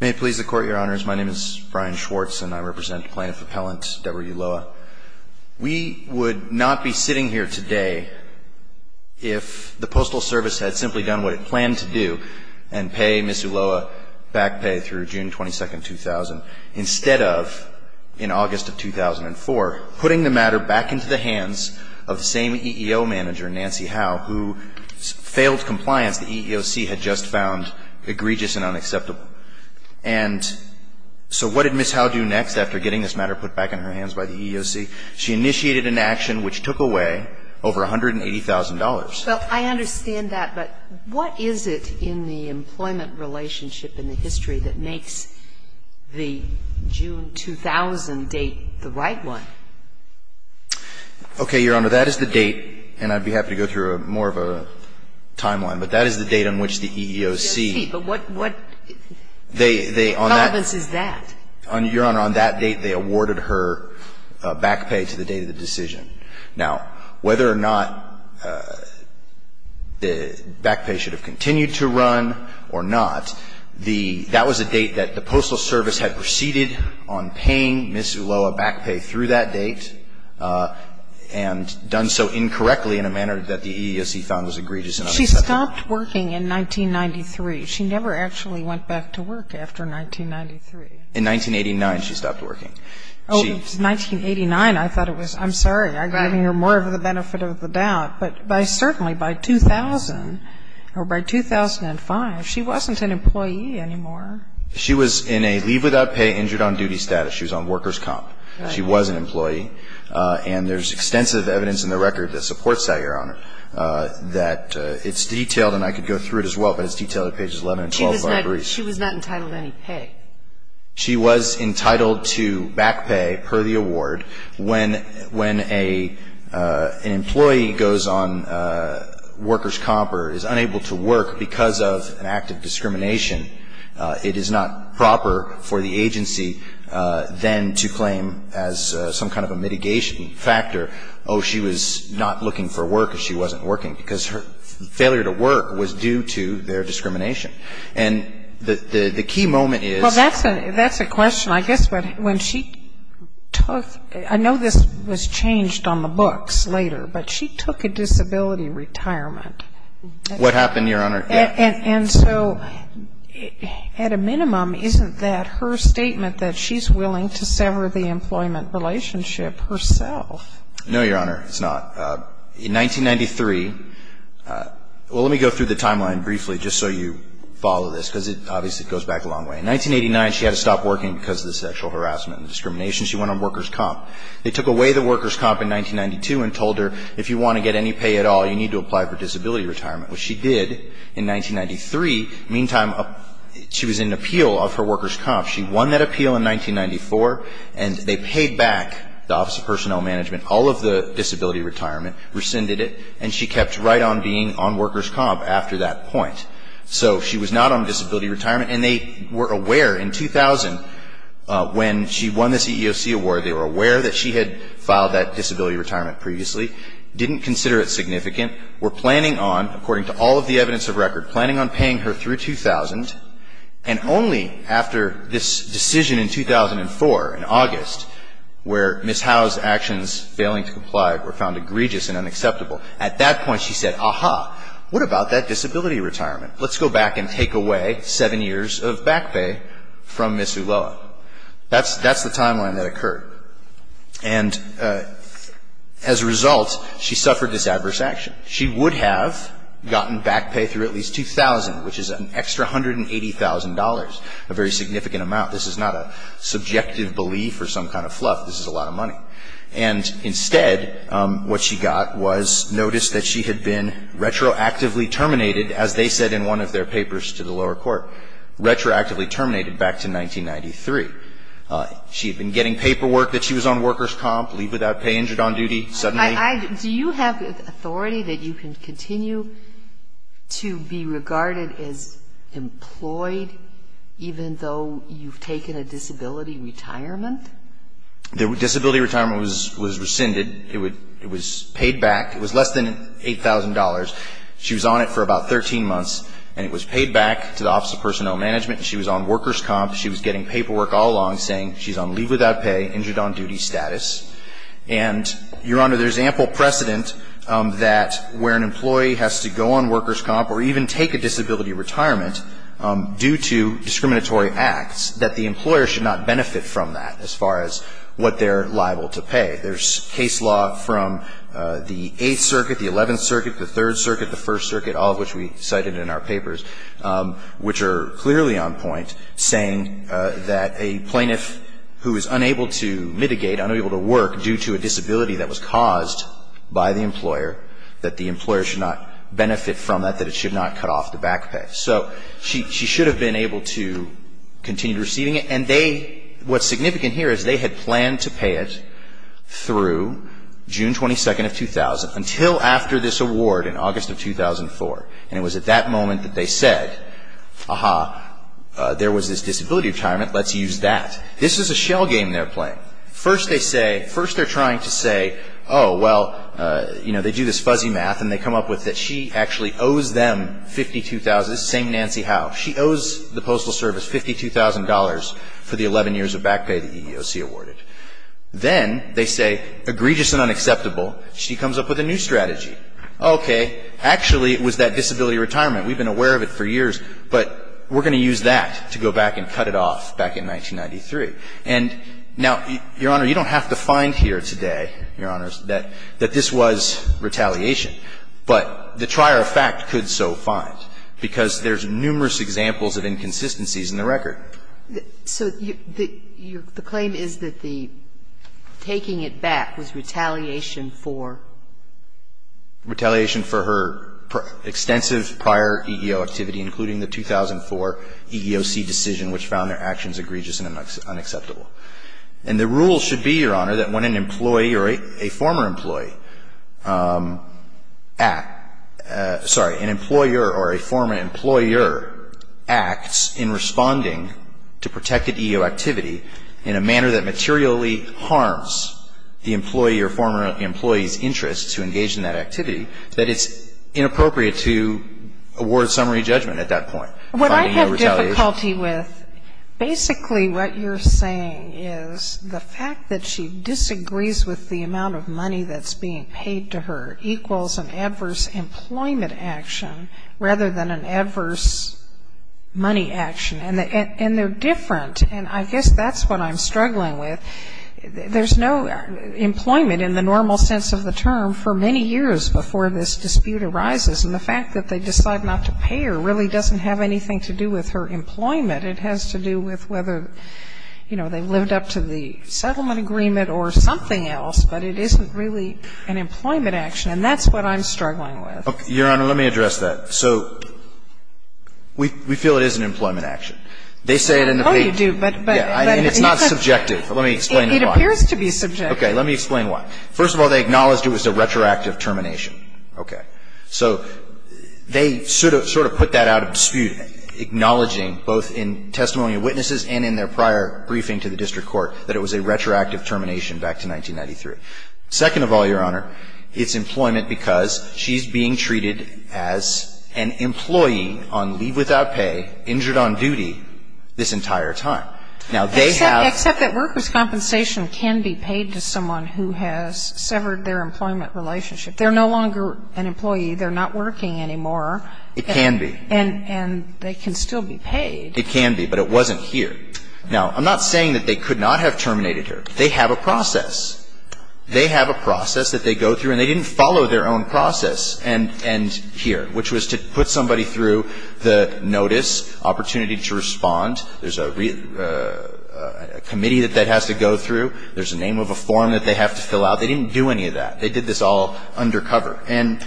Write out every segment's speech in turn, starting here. May it please the Court, Your Honors, my name is Brian Schwartz and I represent Plaintiff Appellant Deborah Ulloa. We would not be sitting here today if the Postal Service had simply done what it planned to do and pay Ms. Ulloa back pay through June 22, 2000, instead of, in August of 2004, putting the matter back into the hands of the same EEO manager, Nancy Howe, who failed compliance the EEOC had just found egregious and unacceptable. And so what did Ms. Howe do next after getting this matter put back in her hands by the EEOC? She initiated an action which took away over $180,000. Well, I understand that, but what is it in the employment relationship in the history that makes the June 2000 date the right one? Okay, Your Honor, that is the date, and I would be happy to go through more of a timeline, but that is the date on which the EEOC. But what relevance is that? Your Honor, on that date they awarded her back pay to the date of the decision. Now, whether or not the back pay should have continued to run or not, that was a date had proceeded on paying Ms. Ulloa back pay through that date and done so incorrectly in a manner that the EEOC found was egregious and unacceptable. She stopped working in 1993. She never actually went back to work after 1993. In 1989, she stopped working. Oh, 1989, I thought it was. I'm sorry. I'm giving her more of the benefit of the doubt. But certainly by 2000 or by 2005, she wasn't an employee anymore. She was in a leave without pay, injured on duty status. She was on workers' comp. She was an employee. And there's extensive evidence in the record that supports that, Your Honor, that it's detailed, and I could go through it as well, but it's detailed at pages 11 and 12 of our briefs. She was not entitled to any pay. She was entitled to back pay per the award when an employee goes on workers' comp or is unable to work because of an act of discrimination. It is not proper for the agency then to claim as some kind of a mitigation factor, oh, she was not looking for work or she wasn't working, because her failure to work was due to their discrimination. And the key moment is that's a question. I guess when she took, I know this was changed on the books later, but she took a disability retirement. What happened, Your Honor? And so at a minimum, isn't that her statement that she's willing to sever the employment relationship herself? No, Your Honor, it's not. In 1993, well, let me go through the timeline briefly just so you follow this, because it obviously goes back a long way. In 1989, she had to stop working because of the sexual harassment and discrimination. She went on workers' comp. They took away the workers' comp in 1992 and told her if you want to get any pay at all, you need to apply for disability retirement, which she did in 1993. Meantime, she was in appeal of her workers' comp. She won that appeal in 1994, and they paid back the Office of Personnel Management, all of the disability retirement, rescinded it, and she kept right on being on workers' comp after that point. So she was not on disability retirement, and they were aware in 2000, when she won the CEOC award, they were aware that she had filed that disability retirement previously, didn't consider it significant, were planning on, according to all of the evidence of record, planning on paying her through 2000, and only after this decision in 2004, in August, where Ms. Howe's actions, failing to comply, were found egregious and unacceptable. At that point, she said, aha, what about that disability retirement? Let's go back and take away seven years of back pay from Ms. Ulloa. That's the timeline that occurred. And as a result, she suffered this adverse action. She would have gotten back pay through at least 2000, which is an extra $180,000, a very significant amount. This is not a subjective belief or some kind of fluff. This is a lot of money. And instead, what she got was notice that she had been retroactively terminated, as they said in one of their papers to the lower court, retroactively terminated back to 1993. She had been getting paperwork that she was on workers' comp, leave without pay, injured on duty, suddenly. Do you have authority that you can continue to be regarded as employed, even though you've taken a disability retirement? The disability retirement was rescinded. It was paid back. It was less than $8,000. She was on it for about 13 months, and it was paid back to the Office of Personnel Management. She was on workers' comp. She was getting paperwork all along saying she's on leave without pay, injured on duty status. And, Your Honor, there's ample precedent that where an employee has to go on workers' comp or even take a disability retirement due to discriminatory acts, that the employer should not benefit from that. As far as what they're liable to pay, there's case law from the Eighth Circuit, the Eleventh Circuit, the Third Circuit, the First Circuit, all of which we cited in our papers, which are clearly on point saying that a plaintiff who is unable to mitigate, unable to work due to a disability that was caused by the employer, that the employer should not benefit from that, that it should not cut off the back pay. So she should have been able to continue receiving it. And they, what's significant here is they had planned to pay it through June 22nd of 2000 until after this award in August of 2004. And it was at that moment that they said, aha, there was this disability retirement. Let's use that. This is a shell game they're playing. First they say, first they're trying to say, oh, well, you know, they do this fuzzy math and they come up with that she actually owes them $52,000, same Nancy Howe. She owes the Postal Service $52,000 for the 11 years of back pay the EEOC awarded. Then they say, egregious and unacceptable, she comes up with a new strategy. Okay. Actually, it was that disability retirement. We've been aware of it for years. But we're going to use that to go back and cut it off back in 1993. And now, Your Honor, you don't have to find here today, Your Honors, that this was retaliation. But the trier of fact could so find, because there's numerous examples of inconsistencies in the record. So the claim is that the taking it back was retaliation for? Retaliation for her extensive prior EEO activity, including the 2004 EEOC decision which found their actions egregious and unacceptable. And the rule should be, Your Honor, that when an employee or a former employee act, sorry, an employer or a former employer acts in responding to protected EEO activity in a manner that materially harms the employee or former employee's interest to engage in that activity, that it's inappropriate to award summary judgment at that point. What I have difficulty with, basically what you're saying is the fact that she disagrees with the amount of money that's being paid to her equals an adverse employment action rather than an adverse money action. And they're different. And I guess that's what I'm struggling with. There's no employment in the normal sense of the term for many years before this dispute arises. And the fact that they decide not to pay her really doesn't have anything to do with her employment. It has to do with whether, you know, they lived up to the settlement agreement or something else. But it isn't really an employment action. And that's what I'm struggling with. Your Honor, let me address that. So we feel it is an employment action. They say it in the patent. Oh, you do. And it's not subjective. Let me explain why. It appears to be subjective. Okay. Let me explain why. First of all, they acknowledged it was a retroactive termination. Okay. So they sort of put that out of dispute, acknowledging both in testimony of witnesses and in their prior briefing to the district court that it was a retroactive termination back to 1993. Second of all, Your Honor, it's employment because she's being treated as an employee on leave without pay, injured on duty this entire time. Now, they have ---- Except that workers' compensation can be paid to someone who has severed their employment relationship. If they're no longer an employee, they're not working anymore. It can be. And they can still be paid. It can be. But it wasn't here. Now, I'm not saying that they could not have terminated her. They have a process. They have a process that they go through. And they didn't follow their own process and here, which was to put somebody through the notice, opportunity to respond. There's a committee that that has to go through. There's a name of a form that they have to fill out. They didn't do any of that. They did this all undercover. And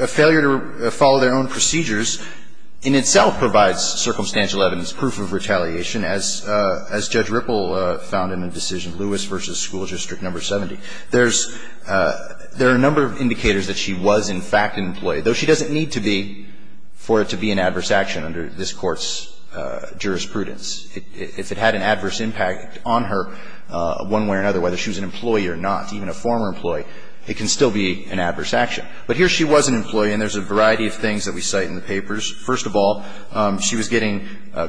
a failure to follow their own procedures in itself provides circumstantial evidence, proof of retaliation, as Judge Ripple found in the decision Lewis v. School District No. 70. There's a number of indicators that she was in fact an employee, though she doesn't need to be for it to be an adverse action under this Court's jurisprudence. If it had an adverse impact on her one way or another, whether she was an employee or not, even a former employee, it can still be an adverse action. But here she was an employee and there's a variety of things that we cite in the papers. First of all, she was getting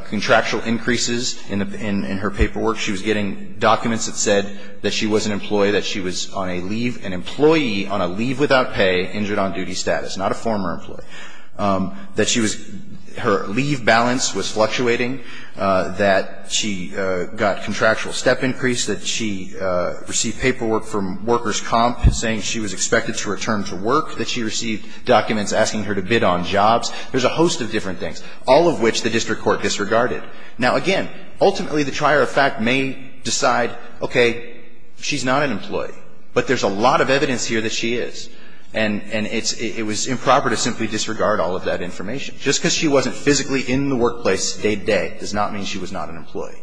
contractual increases in her paperwork. She was getting documents that said that she was an employee, that she was on a leave, an employee on a leave without pay, injured on duty status, not a former employee. That she was her leave balance was fluctuating. That she got contractual step increase. That she received paperwork from workers' comp saying she was expected to return to work. That she received documents asking her to bid on jobs. There's a host of different things, all of which the district court disregarded. Now, again, ultimately the trier of fact may decide, okay, she's not an employee, but there's a lot of evidence here that she is. And it was improper to simply disregard all of that information. Just because she wasn't physically in the workplace day-to-day does not mean she was not an employee.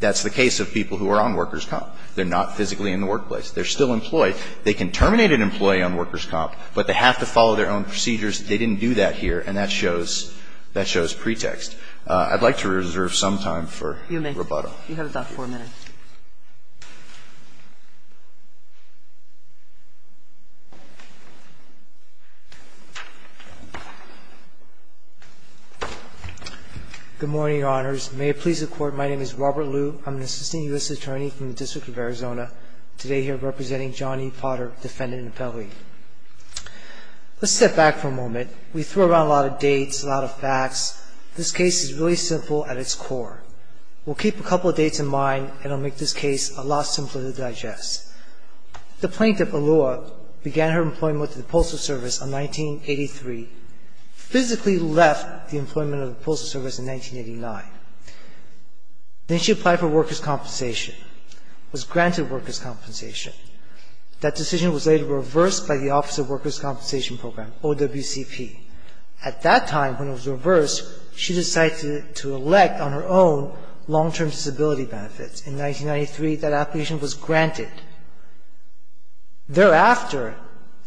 That's the case of people who are on workers' comp. They're not physically in the workplace. They're still employed. They can terminate an employee on workers' comp, but they have to follow their own procedures. They didn't do that here, and that shows pretext. I'd like to reserve some time for rebuttal. You may. You have about four minutes. Good morning, Your Honors. May it please the Court, my name is Robert Liu. I'm an assistant U.S. attorney from the District of Arizona, today here representing John E. Potter, defendant and appellee. Let's step back for a moment. We throw around a lot of dates, a lot of facts. This case is really simple at its core. We'll keep a couple of dates in mind, and I'll make this case a lot simpler to digest. The plaintiff, Aloha, began her employment with the Postal Service in 1983, physically left the employment of the Postal Service in 1989. Then she applied for workers' compensation, was granted workers' compensation. That decision was later reversed by the Office of Workers' Compensation Program, OWCP. At that time, when it was reversed, she decided to elect, on her own, long-term disability benefits. In 1993, that application was granted. Thereafter,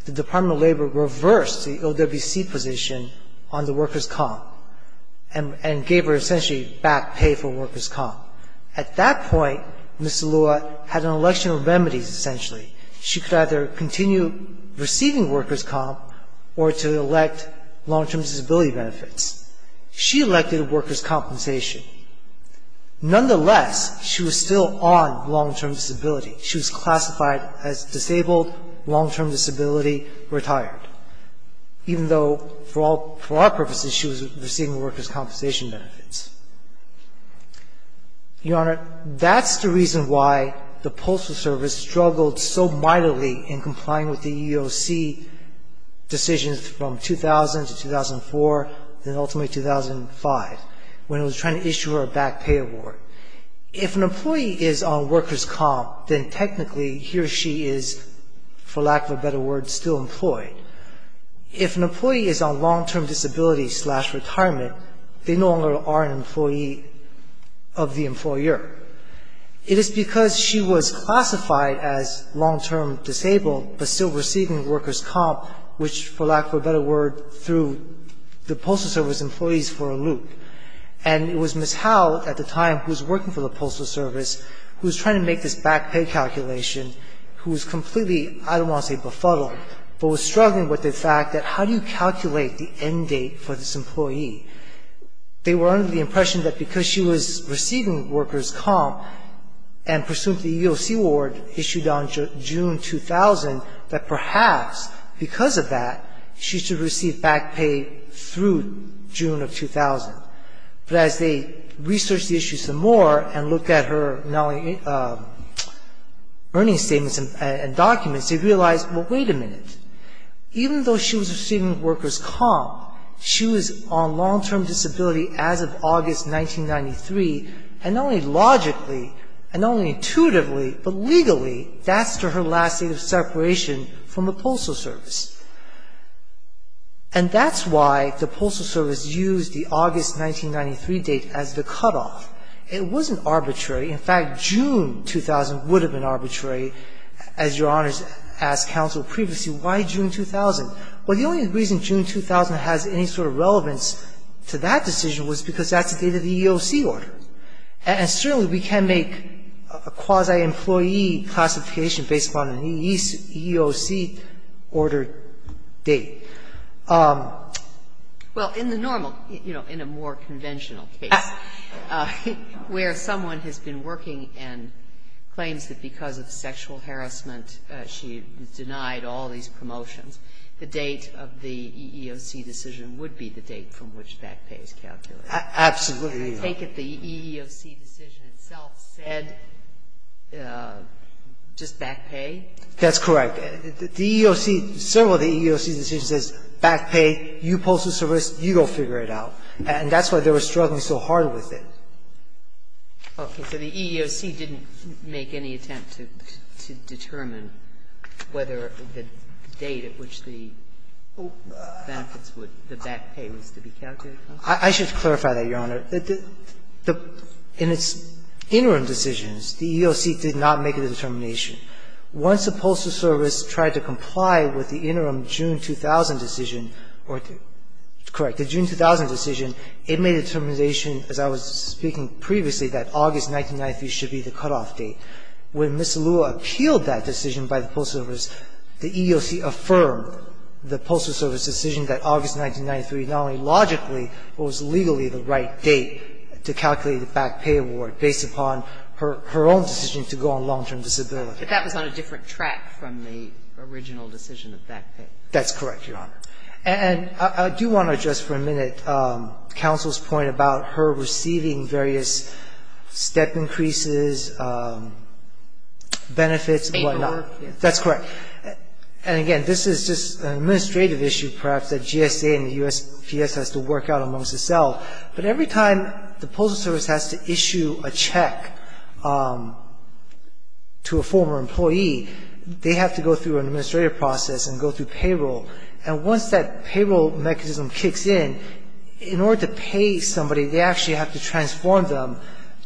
the Department of Labor reversed the OWCP position on the workers' comp, and gave her, essentially, back pay for workers' comp. At that point, Ms. Aloha had an election of remedies, essentially. She could either continue receiving workers' comp, or to elect long-term disability benefits. She elected workers' compensation. Nonetheless, she was still on long-term disability. She was classified as disabled, long-term disability, retired, even though, for all purposes, she was receiving workers' compensation benefits. Your Honor, that's the reason why the Postal Service struggled so mightily in complying with the EEOC decisions from 2000 to 2004, and ultimately 2005, when it was trying to issue her a back pay award. If an employee is on workers' comp, then technically, he or she is, for lack of a better word, still employed. If an employee is on long-term disability slash retirement, they no longer are an employee of the employer. It is because she was classified as long-term disabled, but still receiving workers' comp, which, for lack of a better word, threw the Postal Service employees for a loop. And it was Ms. Howell, at the time, who was working for the Postal Service, who was trying to make this back pay calculation, who was completely, I don't want to say befuddled, but was struggling with the fact that how do you calculate the end date for this employee? They were under the impression that because she was receiving workers' comp and pursuant to the EEOC award issued on June 2000, that perhaps, because of that, she should receive back pay through June of 2000. But as they researched the issue some more and looked at her earnings statements and even though she was receiving workers' comp, she was on long-term disability as of August 1993, and not only logically and not only intuitively, but legally, that's to her last date of separation from the Postal Service. And that's why the Postal Service used the August 1993 date as the cutoff. It wasn't arbitrary. In fact, June 2000 would have been arbitrary. As Your Honors asked counsel previously, why June 2000? Well, the only reason June 2000 has any sort of relevance to that decision was because that's the date of the EEOC order. And certainly we can't make a quasi-employee classification based upon an EEOC order date. Well, in the normal, you know, in a more conventional case where someone has been working and claims that because of sexual harassment she was denied all these promotions, the date of the EEOC decision would be the date from which back pay is calculated. Absolutely. I think that the EEOC decision itself said just back pay. That's correct. The EEOC, several of the EEOC decisions says back pay, you Postal Service, you go figure it out. And that's why they were struggling so hard with it. Okay. So the EEOC didn't make any attempt to determine whether the date at which the benefits would, the back pay was to be calculated? I should clarify that, Your Honor. In its interim decisions, the EEOC did not make a determination. Once the Postal Service tried to comply with the interim June 2000 decision, or, correct, the June 2000 decision, it made a determination, as I was speaking previously, that August 1993 should be the cutoff date. When Ms. Lua appealed that decision by the Postal Service, the EEOC affirmed the Postal Service decision that August 1993 not only logically but was legally the right date to calculate the back pay award based upon her own decision to go on long-term disability. But that was on a different track from the original decision of back pay. That's correct, Your Honor. And I do want to address for a minute counsel's point about her receiving various step increases, benefits and whatnot. Paperwork, yes. That's correct. And, again, this is just an administrative issue perhaps that GSA and the U.S. has to work out amongst itself. But every time the Postal Service has to issue a check to a former employee, they have to go through an administrative process and go through payroll. And once that payroll mechanism kicks in, in order to pay somebody, they actually have to transform them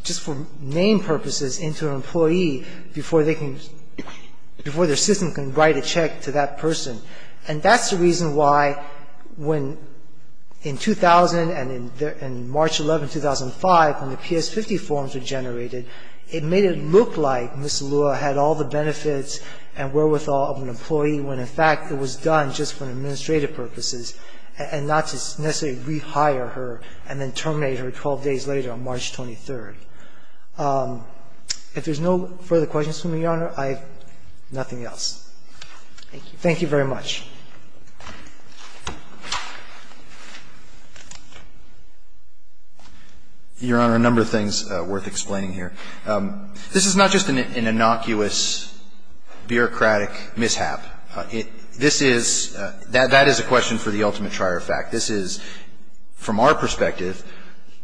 just for name purposes into an employee before their system can write a check to that person. And that's the reason why when in 2000 and in March 11, 2005, when the PS50 forms were generated, it made it look like Ms. Lua had all the benefits and wherewithal of an employee when in fact it was done just for administrative purposes and not to necessarily rehire her and then terminate her 12 days later on March 23. If there's no further questions for me, Your Honor, I have nothing else. Thank you. Thank you very much. Your Honor, a number of things worth explaining here. This is not just an innocuous, bureaucratic mishap. This is, that is a question for the ultimate trier of fact. This is, from our perspective,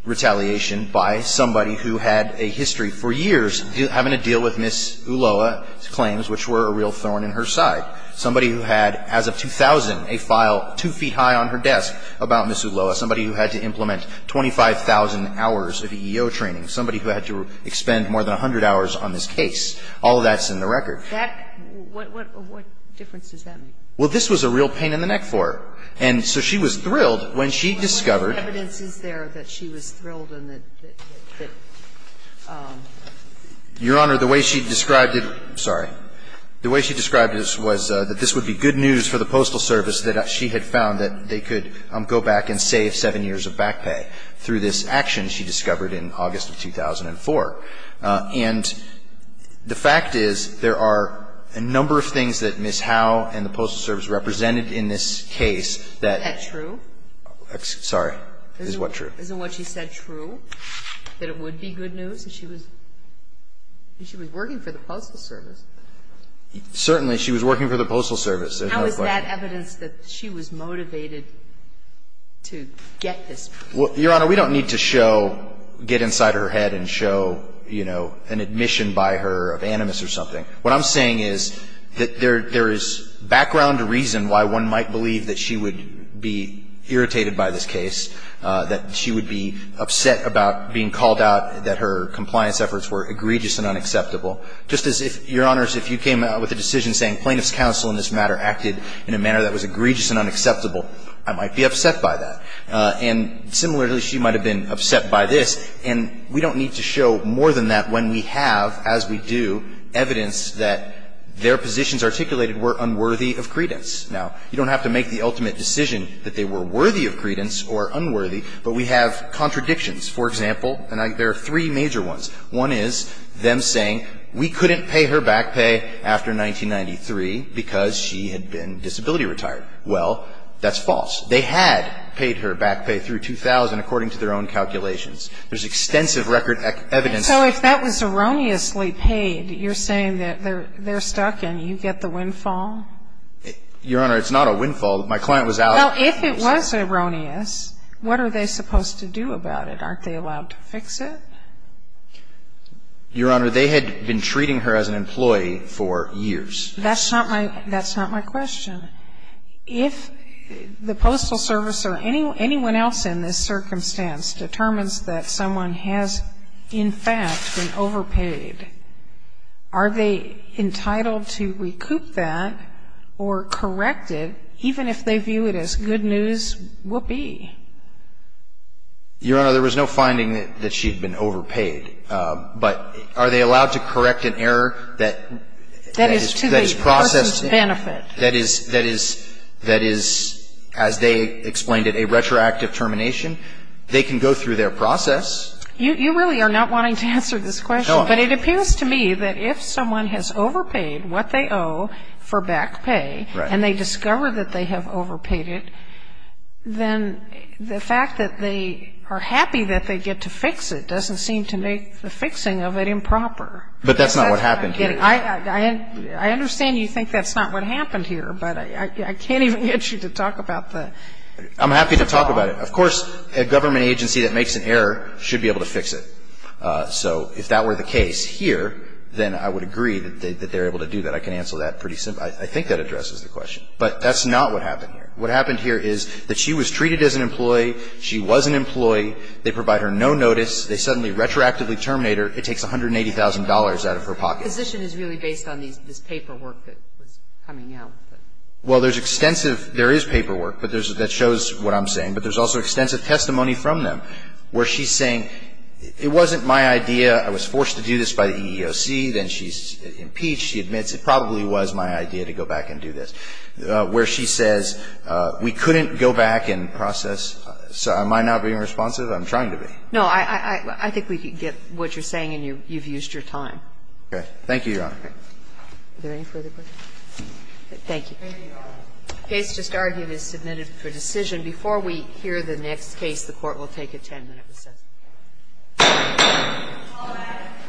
retaliation by somebody who had a history for years having to deal with Ms. Lua's claims, which were a real thorn in her side. Somebody who had, as of 2000, a file 2 feet high on her desk about Ms. Lua. Somebody who had to implement 25,000 hours of EEO training. Somebody who had to expend more than 100 hours on this case. All of that's in the record. That – what difference does that make? Well, this was a real pain in the neck for her. And so she was thrilled when she discovered – What evidence is there that she was thrilled and that – that – Your Honor, the way she described it – sorry. The way she described it was that this would be good news for the Postal Service that she had found that they could go back and save 7 years of back pay through this action she discovered in August of 2004. And the fact is there are a number of things that Ms. Howe and the Postal Service represented in this case that – Is that true? Sorry. Is what true? Isn't what she said true, that it would be good news? That she was – that she was working for the Postal Service. Certainly she was working for the Postal Service. There's no question. How is that evidence that she was motivated to get this? Your Honor, we don't need to show – get inside her head and show, you know, an admission by her of animus or something. What I'm saying is that there is background reason why one might believe that she would be irritated by this case, that she would be upset about being called out, that her compliance efforts were egregious and unacceptable. Just as if, Your Honors, if you came out with a decision saying plaintiff's counsel in this matter acted in a manner that was egregious and unacceptable, I might be upset by that. And similarly, she might have been upset by this. And we don't need to show more than that when we have, as we do, evidence that their positions articulated were unworthy of credence. Now, you don't have to make the ultimate decision that they were worthy of credence or unworthy, but we have contradictions. For example, and there are three major ones. One is them saying we couldn't pay her back pay after 1993 because she had been disability retired. Well, that's false. They had paid her back pay through 2000 according to their own calculations. There's extensive record evidence. So if that was erroneously paid, you're saying that they're stuck and you get the windfall? Your Honor, it's not a windfall. My client was out. Well, if it was erroneous, what are they supposed to do about it? Aren't they allowed to fix it? Your Honor, they had been treating her as an employee for years. That's not my question. If the Postal Service or anyone else in this circumstance determines that someone has, in fact, been overpaid, are they entitled to recoup that or correct it, even if they view it as good news whoopee? Your Honor, there was no finding that she had been overpaid. But are they allowed to correct an error that is processed? That is to the person's benefit. That is, as they explained it, a retroactive termination. They can go through their process. You really are not wanting to answer this question. No, I'm not. But it appears to me that if someone has overpaid what they owe for back pay and they discover that they have overpaid it, then the fact that they are happy that they get to fix it doesn't seem to make the fixing of it improper. But that's not what happened here. I understand you think that's not what happened here. But I can't even get you to talk about the fault. I'm happy to talk about it. Of course, a government agency that makes an error should be able to fix it. So if that were the case here, then I would agree that they're able to do that. I can answer that pretty simply. I think that addresses the question. But that's not what happened here. What happened here is that she was treated as an employee. She was an employee. They provide her no notice. They suddenly retroactively terminate her. It takes $180,000 out of her pocket. The position is really based on this paperwork that was coming out. Well, there's extensive – there is paperwork that shows what I'm saying. But there's also extensive testimony from them where she's saying it wasn't my idea. I was forced to do this by the EEOC. Then she's impeached. She admits it probably was my idea to go back and do this. Where she says we couldn't go back and process. So am I not being responsive? I'm trying to be. No. I think we can get what you're saying, and you've used your time. Okay. Thank you, Your Honor. Is there any further questions? Thank you. The case just argued is submitted for decision. Before we hear the next case, the Court will take a 10-minute recess. All rise.